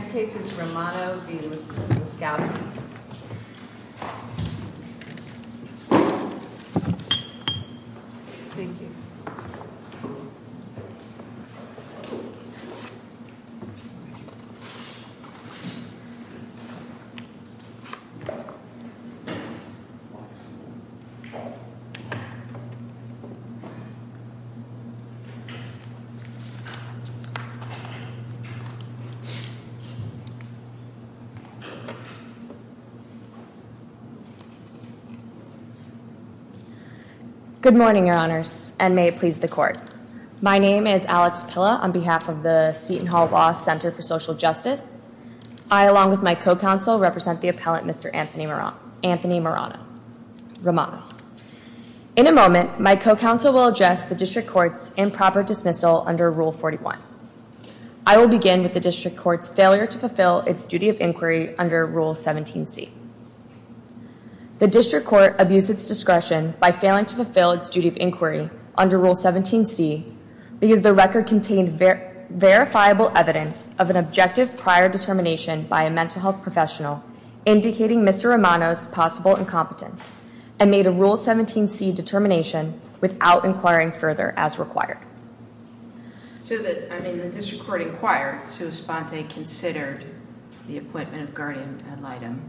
Next case is Romano v. Laskowski Good morning, your honors, and may it please the court. My name is Alex Pilla on behalf of the Seton Hall Law Center for Social Justice. I, along with my co-counsel, represent the appellant, Mr. Anthony Romano. In a moment, my co-counsel will address the district court's improper dismissal under Rule 41. I will begin with the district court's failure to fulfill its duty of inquiry under Rule 17c. The district court abused its discretion by failing to fulfill its duty of inquiry under Rule 17c because the record contained verifiable evidence of an objective prior determination by a mental health professional indicating Mr. Romano's possible incompetence and made a Rule 17c determination without inquiring further as required. So that, I mean, the district court inquired, so Esponte considered the appointment of guardian ad litem.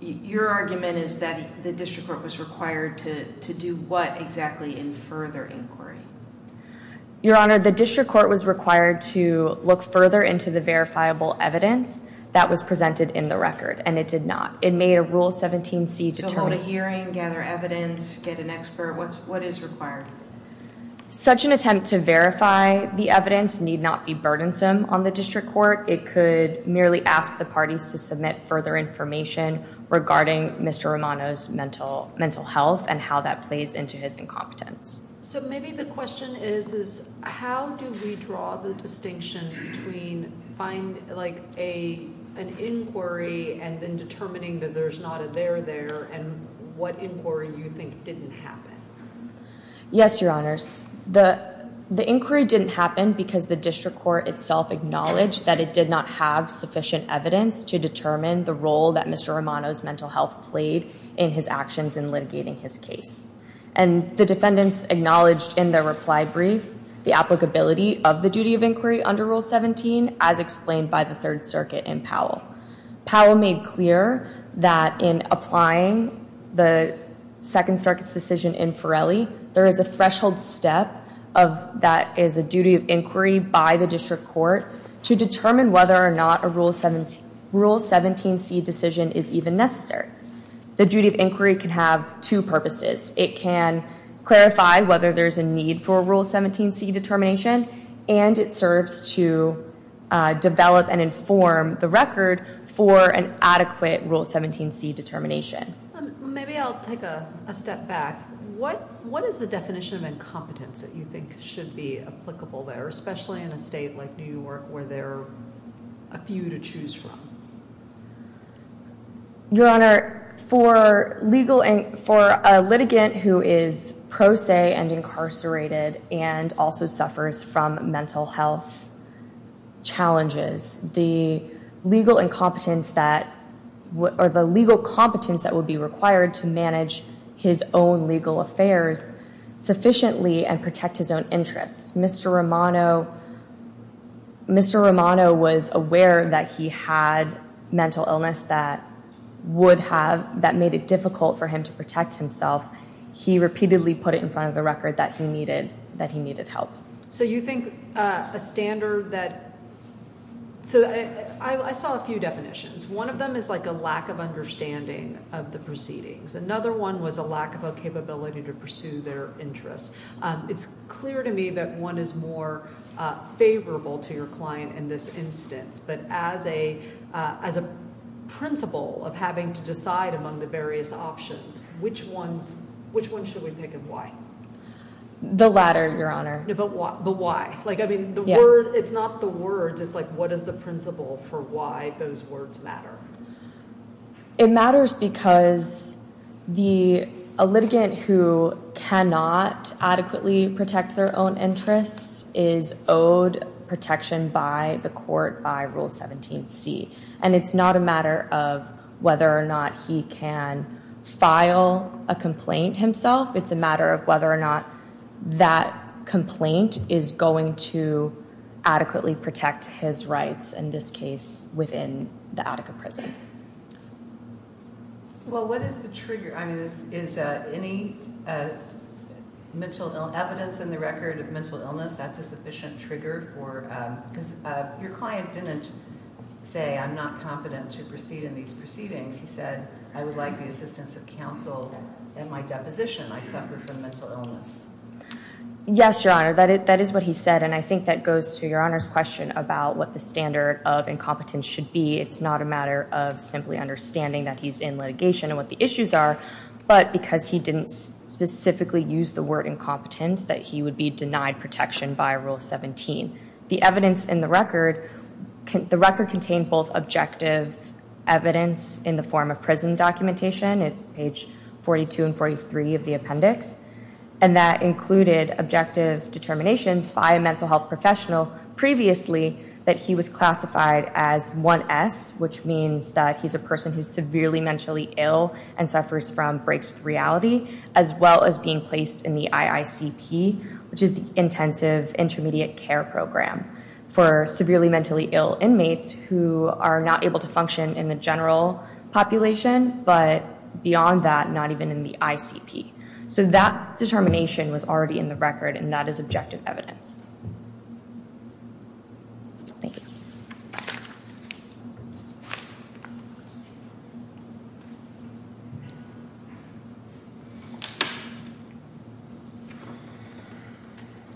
Your argument is that the district court was required to do what exactly in further inquiry? Your honor, the district court was required to look further into the verifiable evidence that was presented in the record, and it did not. It made a Rule 17c determination. So it would go to hearing, gather evidence, get an expert. What is required? Such an attempt to verify the evidence need not be burdensome on the district court. It could merely ask the parties to submit further information regarding Mr. Romano's mental health and how that plays into his incompetence. So maybe the question is, how do we draw the distinction between an inquiry and then determining that there's not a there there, and what inquiry you think didn't happen? Yes, your honors. The inquiry didn't happen because the district court itself acknowledged that it did not have sufficient evidence to determine the role that Mr. Romano's mental health played in his actions in litigating his case. And the defendants acknowledged in their reply brief the applicability of the duty of inquiry under Rule 17 as explained by the Third Circuit in Powell. Powell made clear that in applying the Second Circuit's decision in Forelli, there is a threshold step that is a duty of inquiry by the district court to determine whether or not a Rule 17c decision is even necessary. The duty of inquiry can have two purposes. It can clarify whether there's a need for a Rule 17c determination, and it serves to develop and inform the record for an adequate Rule 17c determination. Maybe I'll take a step back. What is the definition of incompetence that you think should be applicable there, especially in a state like New York where there are a few to choose from? Your honor, for a litigant who is pro se and incarcerated and also suffers from mental health challenges, the legal competence that would be required to manage his own legal affairs sufficiently and protect his own interests, Mr. Romano was aware that he had mental illness that would have, that made it difficult for him to protect himself. He repeatedly put it in front of the record that he needed help. So you think a standard that, so I saw a few definitions. One of them is like a lack of understanding of the proceedings. Another one was a lack of a capability to pursue their interests. It's clear to me that one is more favorable to your client in this instance, but as a principle of having to decide among the various options, which ones should we pick and why? The latter, your honor. But why? I mean, the word, it's not the words, it's like what is the principle for why those words matter? It matters because a litigant who cannot adequately protect their own interests is owed protection by the court by Rule 17C. And it's not a matter of whether or not he can file a complaint himself. It's a matter of whether or not that complaint is going to adequately protect his rights in this case within the Attica prison. Well, what is the trigger? I mean, is any mental illness, evidence in the record of your client didn't say, I'm not competent to proceed in these proceedings. He said, I would like the assistance of counsel in my deposition. I suffer from mental illness. Yes, your honor. That is what he said, and I think that goes to your honor's question about what the standard of incompetence should be. It's not a matter of simply understanding that he's in litigation and what the issues are, but because he didn't specifically use the word incompetence, that he would be denied protection by Rule 17. The evidence in the record, the record contained both objective evidence in the form of prison documentation, it's page 42 and 43 of the appendix, and that included objective determinations by a mental health professional previously that he was classified as 1S, which means that he's a person who's severely mentally ill and suffers from breaks with reality, as well as being placed in the IICP, which is the Intensive Intermediate Care Program for severely mentally ill inmates who are not able to function in the general population, but beyond that, not even in the ICP. So that determination was already in the record, and that is objective evidence. Thank you.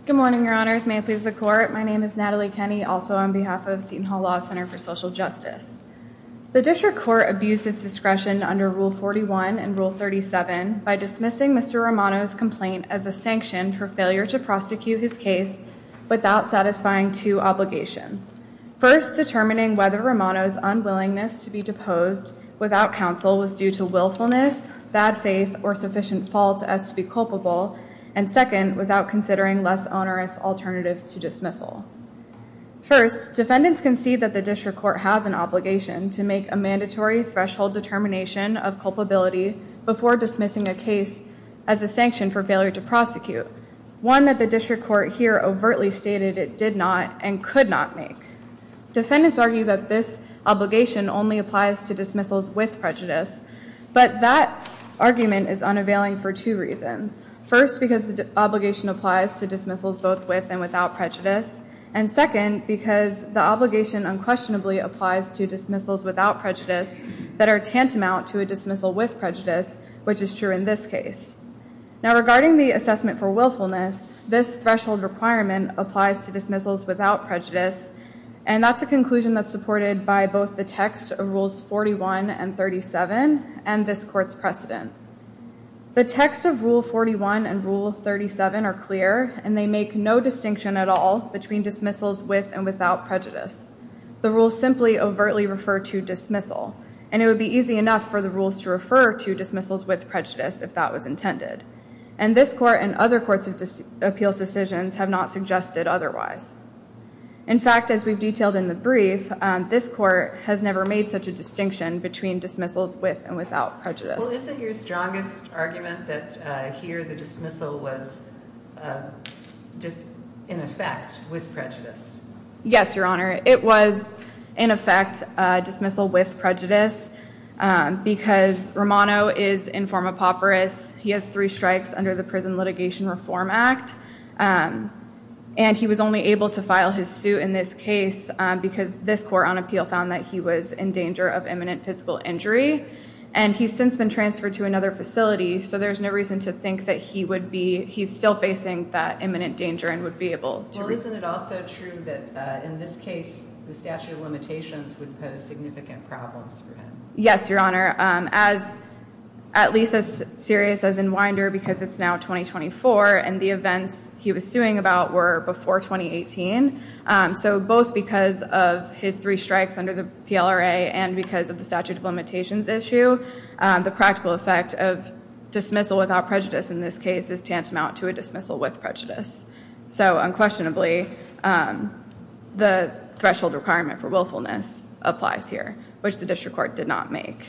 Good morning, your honors. May it please the court, my name is Natalie Kenny, also on behalf of Seton Hall Law Center for Social Justice. The district court abused its discretion under Rule 41 and Rule 37 by dismissing Mr. Romano's complaint as a sanction for failure to prosecute his case without satisfying two obligations. First, determining whether Romano's unwillingness to be deposed without counsel was due to willfulness, bad faith, or sufficient fault as to be culpable, and second, without considering less onerous alternatives to dismissal. First, defendants concede that the district court has an obligation to make a mandatory threshold determination of culpability before dismissing a case as a sanction for failure to prosecute, one that the district court here overtly stated it did not and could not make. Defendants argue that this obligation only applies to dismissals with prejudice, but that argument is unavailing for two reasons. First, because the obligation applies to dismissals both with and without prejudice, and second, because the obligation unquestionably applies to dismissals without prejudice that are tantamount to a dismissal with prejudice, which is true in this case. Now, regarding the assessment for willfulness, this threshold requirement applies to dismissals without prejudice, and that's a conclusion that's supported by both the text of Rules 41 and 37 and this court's precedent. The text of Rule 41 and Rule 37 are clear, and they make no distinction at all between dismissals with and without prejudice. The rules simply overtly refer to dismissal, and it would be easy enough for the rules to refer to dismissals with prejudice if that was intended, and this court and other courts of appeals decisions have not suggested otherwise. In fact, as we've detailed in the brief, this court has never made such a distinction between dismissals with and without prejudice. Well, is it your strongest argument that here the dismissal was in effect with prejudice? Yes, Your Honor. It was in effect a dismissal with prejudice because Romano is in forma pauperis. He has three strikes under the Prison Litigation Reform Act, and he was only able to file his suit in this case because this court on appeal found that he was in danger of imminent physical injury, and he's since been transferred to another facility, so there's no reason to think that he's still facing that imminent danger and would be able to. Well, isn't it also true that in this case the statute of limitations would pose significant problems for him? Yes, Your Honor. At least as serious as in Winder because it's now 2024, and the events he was suing about were before 2018, so both because of his three strikes under the PLRA and because of the statute of limitations issue, the practical effect of dismissal without prejudice in this case is tantamount to a dismissal with prejudice. So unquestionably, the threshold requirement for willfulness applies here, which the district court did not make.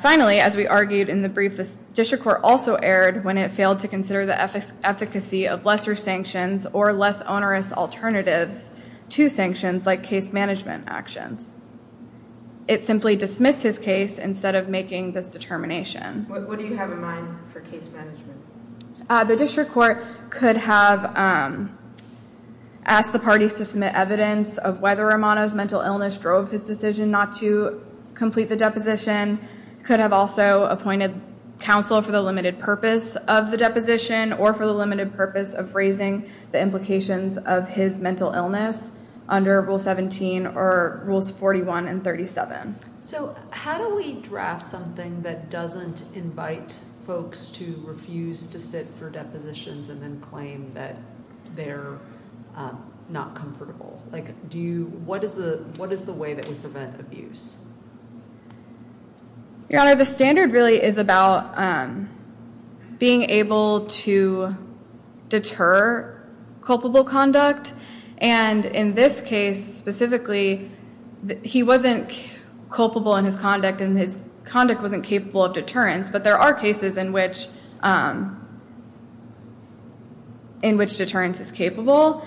Finally, as we argued in the brief, the district court also erred when it failed to consider the efficacy of lesser sanctions or less onerous alternatives to sanctions like case management actions. It simply dismissed his case instead of making this determination. What do you have in mind for case management? The district court could have asked the parties to submit evidence of whether Romano's mental illness drove his decision not to complete the deposition, could have also appointed counsel for the limited purpose of the deposition or for the limited purpose of raising the implications of his mental illness under Rule 17 or Rules 41 and 37. So how do we draft something that doesn't invite folks to refuse to sit for depositions and then claim that they're not comfortable? What is the way that we prevent abuse? Your Honor, the standard really is about being able to deter culpable conduct. And in this case specifically, he wasn't culpable in his conduct and his conduct wasn't capable of deterrence. But there are cases in which deterrence is capable.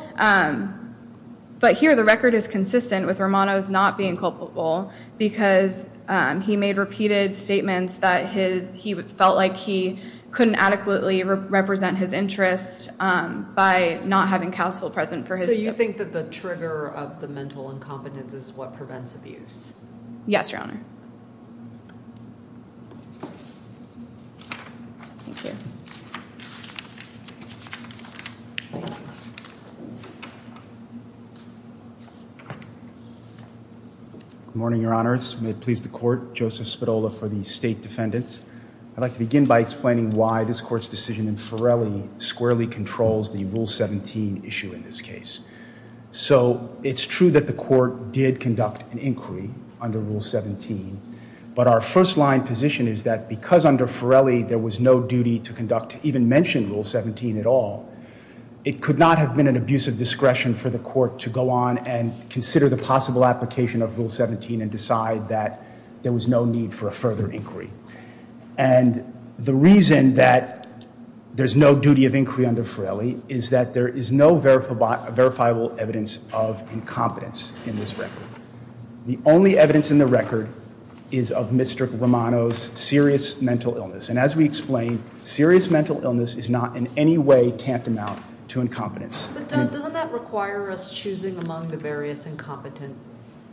But here the record is consistent with Romano's not being culpable because he made repeated statements that he felt like he couldn't adequately represent his interests by not having counsel present for his deposition. Do you think that the trigger of the mental incompetence is what prevents abuse? Yes, Your Honor. Good morning, Your Honors. May it please the Court. Joseph Spadola for the State Defendants. I'd like to begin by explaining why this Court's decision in Ferrelli squarely controls the Rule 17 issue in this case. So it's true that the Court did conduct an inquiry under Rule 17, but our first-line position is that because under Ferrelli there was no duty to conduct, even mention, Rule 17 at all, it could not have been an abuse of discretion for the Court to go on and consider the possible application of Rule 17 and decide that there was no need for a further inquiry. And the reason that there's no duty of inquiry under Ferrelli is that there is no verifiable evidence of incompetence in this record. The only evidence in the record is of Mr. Romano's serious mental illness. And as we explained, serious mental illness is not in any way tantamount to incompetence. But doesn't that require us choosing among the various incompetent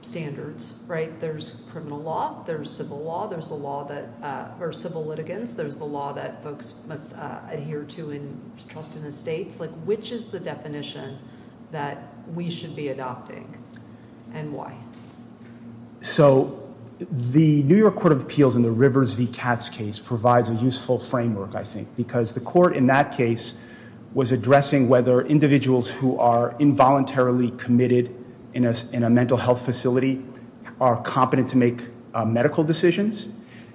standards? Right. There's criminal law. There's civil law. There's a law that or civil litigants. There's the law that folks must adhere to and trust in the states. Like, which is the definition that we should be adopting and why? So the New York Court of Appeals in the Rivers v. Katz case provides a useful framework, I think, because the court in that case was addressing whether individuals who are involuntarily committed in a mental health facility are competent to make medical decisions.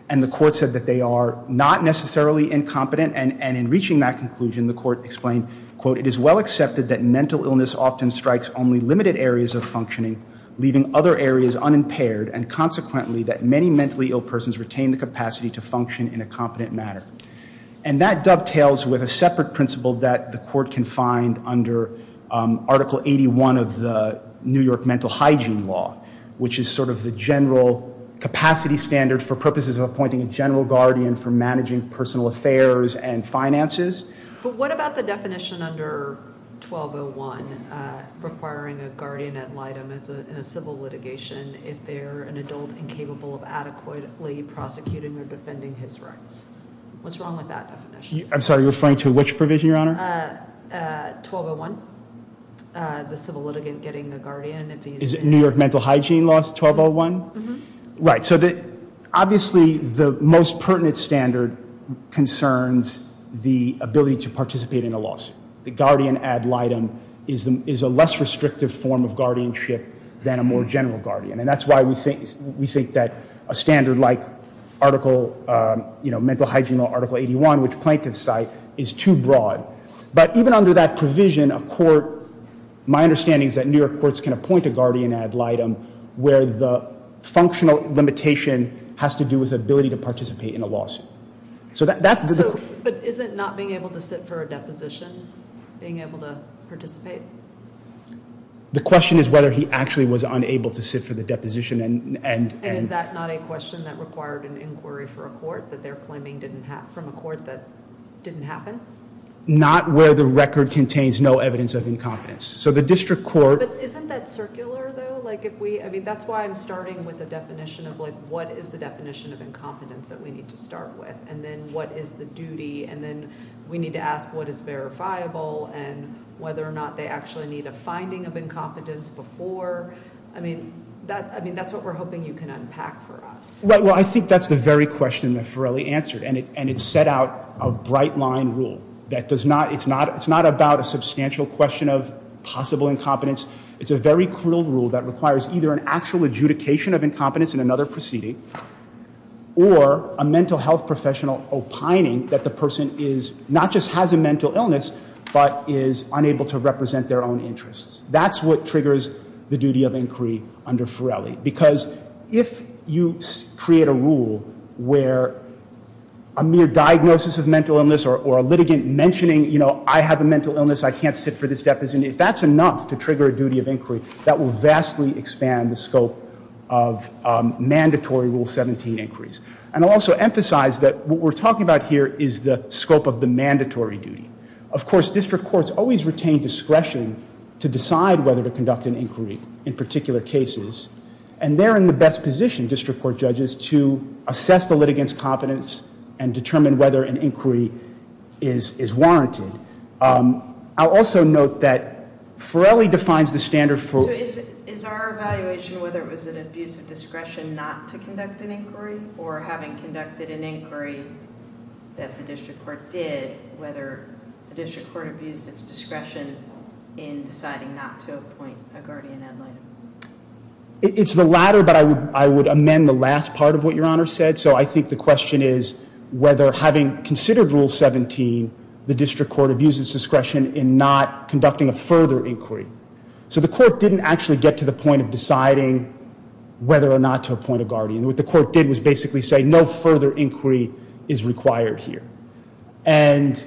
And the court said that they are not necessarily incompetent. And in reaching that conclusion, the court explained, quote, it is well accepted that mental illness often strikes only limited areas of functioning, leaving other areas unimpaired, and consequently, that many mentally ill persons retain the capacity to function in a competent manner. And that dovetails with a separate principle that the court can find under Article 81 of the New York Mental Hygiene Law, which is sort of the general capacity standard for purposes of appointing a general guardian for managing personal affairs and finances. But what about the definition under 1201 requiring a guardian ad litem in a civil litigation if they're an adult incapable of adequately prosecuting or defending his rights? What's wrong with that definition? I'm sorry, you're referring to which provision, Your Honor? 1201, the civil litigant getting a guardian. Is New York Mental Hygiene Law 1201? Right. So obviously, the most pertinent standard concerns the ability to participate in a lawsuit. The guardian ad litem is a less restrictive form of guardianship than a more general guardian. And that's why we think that a standard like Article, you know, Mental Hygiene Law Article 81, which plaintiffs cite, is too broad. But even under that provision, a court, my understanding is that New York courts can appoint a guardian ad litem where the functional limitation has to do with the ability to participate in a lawsuit. But isn't not being able to sit for a deposition being able to participate? The question is whether he actually was unable to sit for the deposition. And is that not a question that required an inquiry for a court that they're claiming from a court that didn't happen? Not where the record contains no evidence of incompetence. But isn't that circular, though? Like if we, I mean, that's why I'm starting with the definition of like what is the definition of incompetence that we need to start with? And then what is the duty? And then we need to ask what is verifiable and whether or not they actually need a finding of incompetence before. I mean, that's what we're hoping you can unpack for us. Well, I think that's the very question that Farrelly answered. And it set out a bright line rule that does not, it's not, it's not about a substantial question of possible incompetence. It's a very cruel rule that requires either an actual adjudication of incompetence in another proceeding or a mental health professional opining that the person is, not just has a mental illness, but is unable to represent their own interests. That's what triggers the duty of inquiry under Farrelly. Because if you create a rule where a mere diagnosis of mental illness or a litigant mentioning, you know, that will vastly expand the scope of mandatory Rule 17 inquiries. And I'll also emphasize that what we're talking about here is the scope of the mandatory duty. Of course, district courts always retain discretion to decide whether to conduct an inquiry in particular cases. And they're in the best position, district court judges, to assess the litigant's competence and determine whether an inquiry is warranted. I'll also note that Farrelly defines the standard for- So is our evaluation whether it was an abuse of discretion not to conduct an inquiry, or having conducted an inquiry that the district court did, whether the district court abused its discretion in deciding not to appoint a guardian ad litigant? It's the latter, but I would amend the last part of what Your Honor said. So I think the question is whether having considered Rule 17, the district court abuses discretion in not conducting a further inquiry. So the court didn't actually get to the point of deciding whether or not to appoint a guardian. What the court did was basically say no further inquiry is required here. And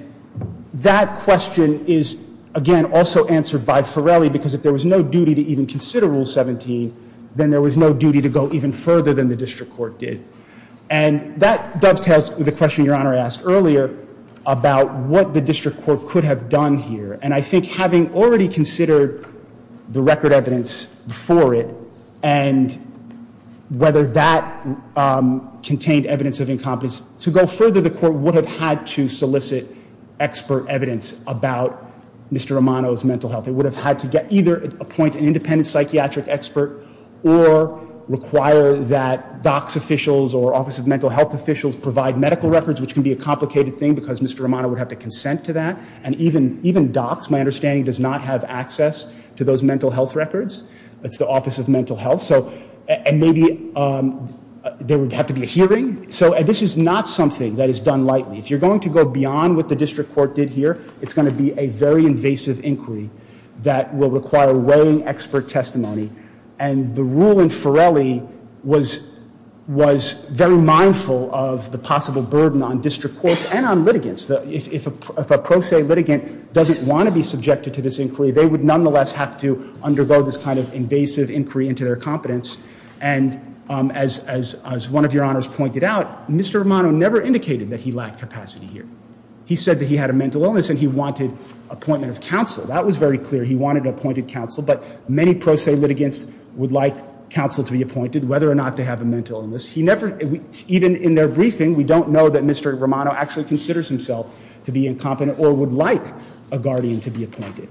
that question is, again, also answered by Farrelly because if there was no duty to even consider Rule 17, then there was no duty to go even further than the district court did. And that dovetails with the question Your Honor asked earlier about what the district court could have done here. And I think having already considered the record evidence before it and whether that contained evidence of incompetence, to go further, the court would have had to solicit expert evidence about Mr. Romano's mental health. It would have had to get either appoint an independent psychiatric expert or require that DOCS officials or Office of Mental Health officials provide medical records, which can be a complicated thing because Mr. Romano would have to consent to that. And even DOCS, my understanding, does not have access to those mental health records. It's the Office of Mental Health. And maybe there would have to be a hearing. So this is not something that is done lightly. If you're going to go beyond what the district court did here, it's going to be a very invasive inquiry that will require weighing expert testimony. And the rule in Farrelly was very mindful of the possible burden on district courts and on litigants. If a pro se litigant doesn't want to be subjected to this inquiry, they would nonetheless have to undergo this kind of invasive inquiry into their competence. And as one of your honors pointed out, Mr. Romano never indicated that he lacked capacity here. He said that he had a mental illness and he wanted appointment of counsel. That was very clear. He wanted appointed counsel, but many pro se litigants would like counsel to be appointed, whether or not they have a mental illness. Even in their briefing, we don't know that Mr. Romano actually considers himself to be incompetent or would like a guardian to be appointed.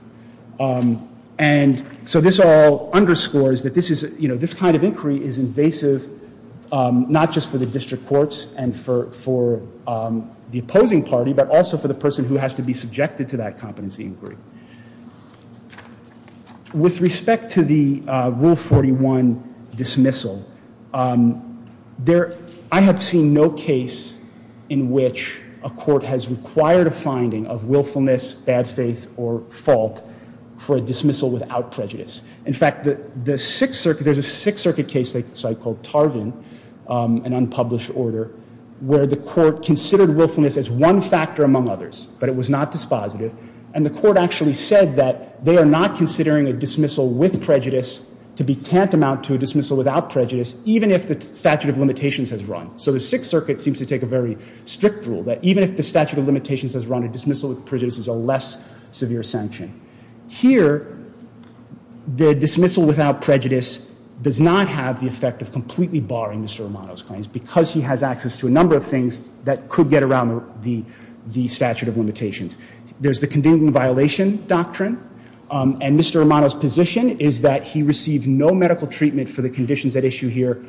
And so this all underscores that this kind of inquiry is invasive not just for the district courts and for the opposing party, but also for the person who has to be subjected to that competency inquiry. With respect to the Rule 41 dismissal, I have seen no case in which a court has required a finding of willfulness, bad faith, or fault for a dismissal without prejudice. In fact, there's a Sixth Circuit case they cite called Tarvin, an unpublished order, where the court considered willfulness as one factor among others, but it was not dispositive. And the court actually said that they are not considering a dismissal with prejudice to be tantamount to a dismissal without prejudice, even if the statute of limitations has run. So the Sixth Circuit seems to take a very strict rule that even if the statute of limitations has run, a dismissal with prejudice is a less severe sanction. Here, the dismissal without prejudice does not have the effect of completely barring Mr. Romano's claims because he has access to a number of things that could get around the statute of limitations. There's the continuing violation doctrine, and Mr. Romano's position is that he received no medical treatment for the conditions at issue here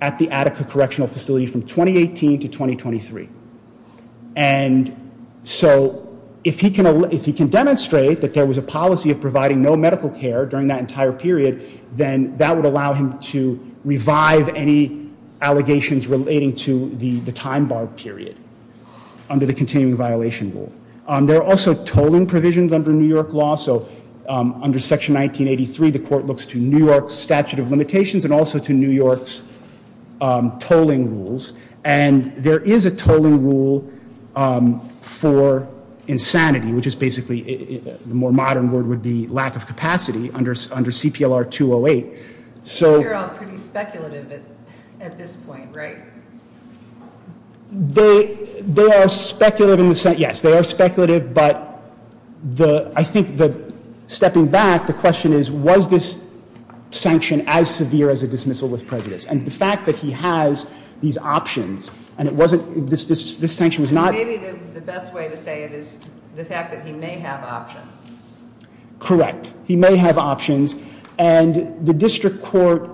at the Attica Correctional Facility from 2018 to 2023. And so if he can demonstrate that there was a policy of providing no medical care during that entire period, then that would allow him to revive any allegations relating to the time bar period under the continuing violation rule. There are also tolling provisions under New York law. So under Section 1983, the court looks to New York's statute of limitations and also to New York's tolling rules. And there is a tolling rule for insanity, which is basically the more modern word would be lack of capacity under CPLR 208. So you're on pretty speculative at this point, right? They are speculative in the sense, yes, they are speculative, but I think that stepping back, the question is was this sanction as severe as a dismissal with prejudice? And the fact that he has these options and it wasn't, this sanction was not. Maybe the best way to say it is the fact that he may have options. Correct. He may have options. And the district court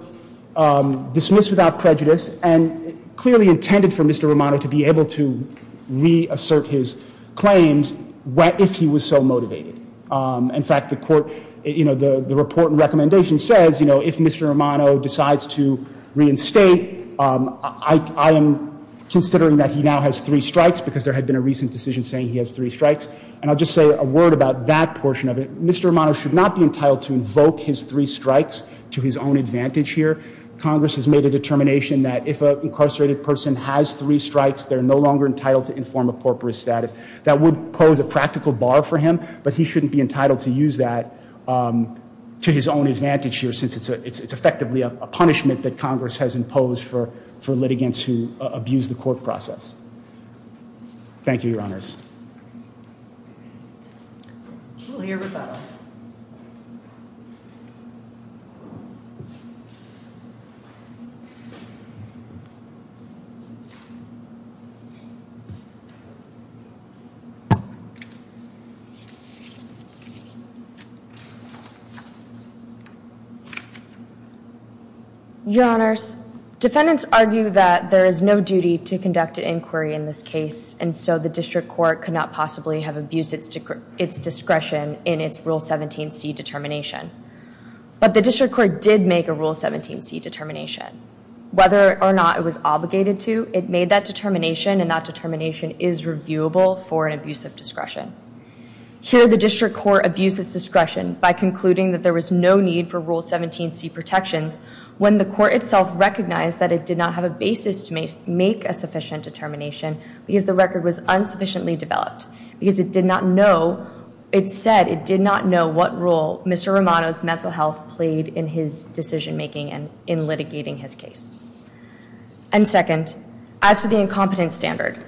dismissed without prejudice and clearly intended for Mr. Romano to be able to reassert his claims if he was so motivated. In fact, the court, you know, the report and recommendation says, you know, if Mr. Romano decides to reinstate, I am considering that he now has three strikes because there had been a recent decision saying he has three strikes. And I'll just say a word about that portion of it. Mr. Romano should not be entitled to invoke his three strikes to his own advantage here. Congress has made a determination that if an incarcerated person has three strikes, they're no longer entitled to inform a corporate status that would pose a practical bar for him. But he shouldn't be entitled to use that to his own advantage here, since it's effectively a punishment that Congress has imposed for litigants who abuse the court process. Thank you, Your Honors. We'll hear rebuttal. Your Honors, defendants argue that there is no duty to conduct an inquiry in this case. And so the district court could not possibly have abused its discretion in its Rule 17C determination. But the district court did make a Rule 17C determination. Whether or not it was obligated to, it made that determination, and that determination is reviewable for an abuse of discretion. Here, the district court abused its discretion by concluding that there was no need for Rule 17C protections when the court itself recognized that it did not have a basis to make a sufficient determination because the record was insufficiently developed, because it did not know, it said it did not know what role Mr. Romano's mental health played in his decision-making and in litigating his case. And second, as to the incompetence standard,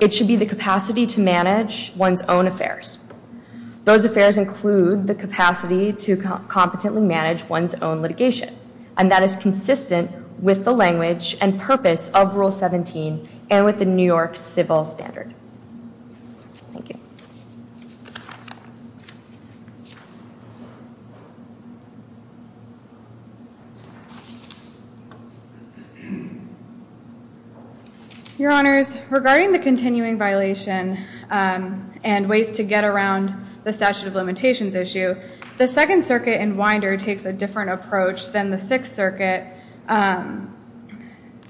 it should be the capacity to manage one's own affairs. Those affairs include the capacity to competently manage one's own litigation. And that is consistent with the language and purpose of Rule 17 and with the New York civil standard. Thank you. Your Honors, regarding the continuing violation and ways to get around the statute of limitations issue, the Second Circuit in Winder takes a different approach than the Sixth Circuit.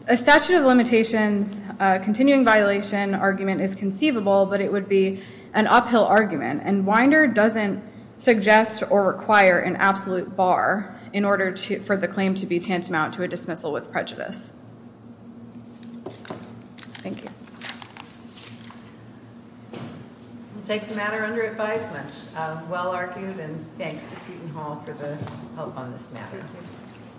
A statute of limitations continuing violation argument is conceivable, but it would be an uphill argument, and Winder doesn't suggest or require an absolute bar in order for the claim to be tantamount to a dismissal with prejudice. Thank you. We'll take the matter under advisement. Well argued, and thanks to Seton Hall for the help on this matter.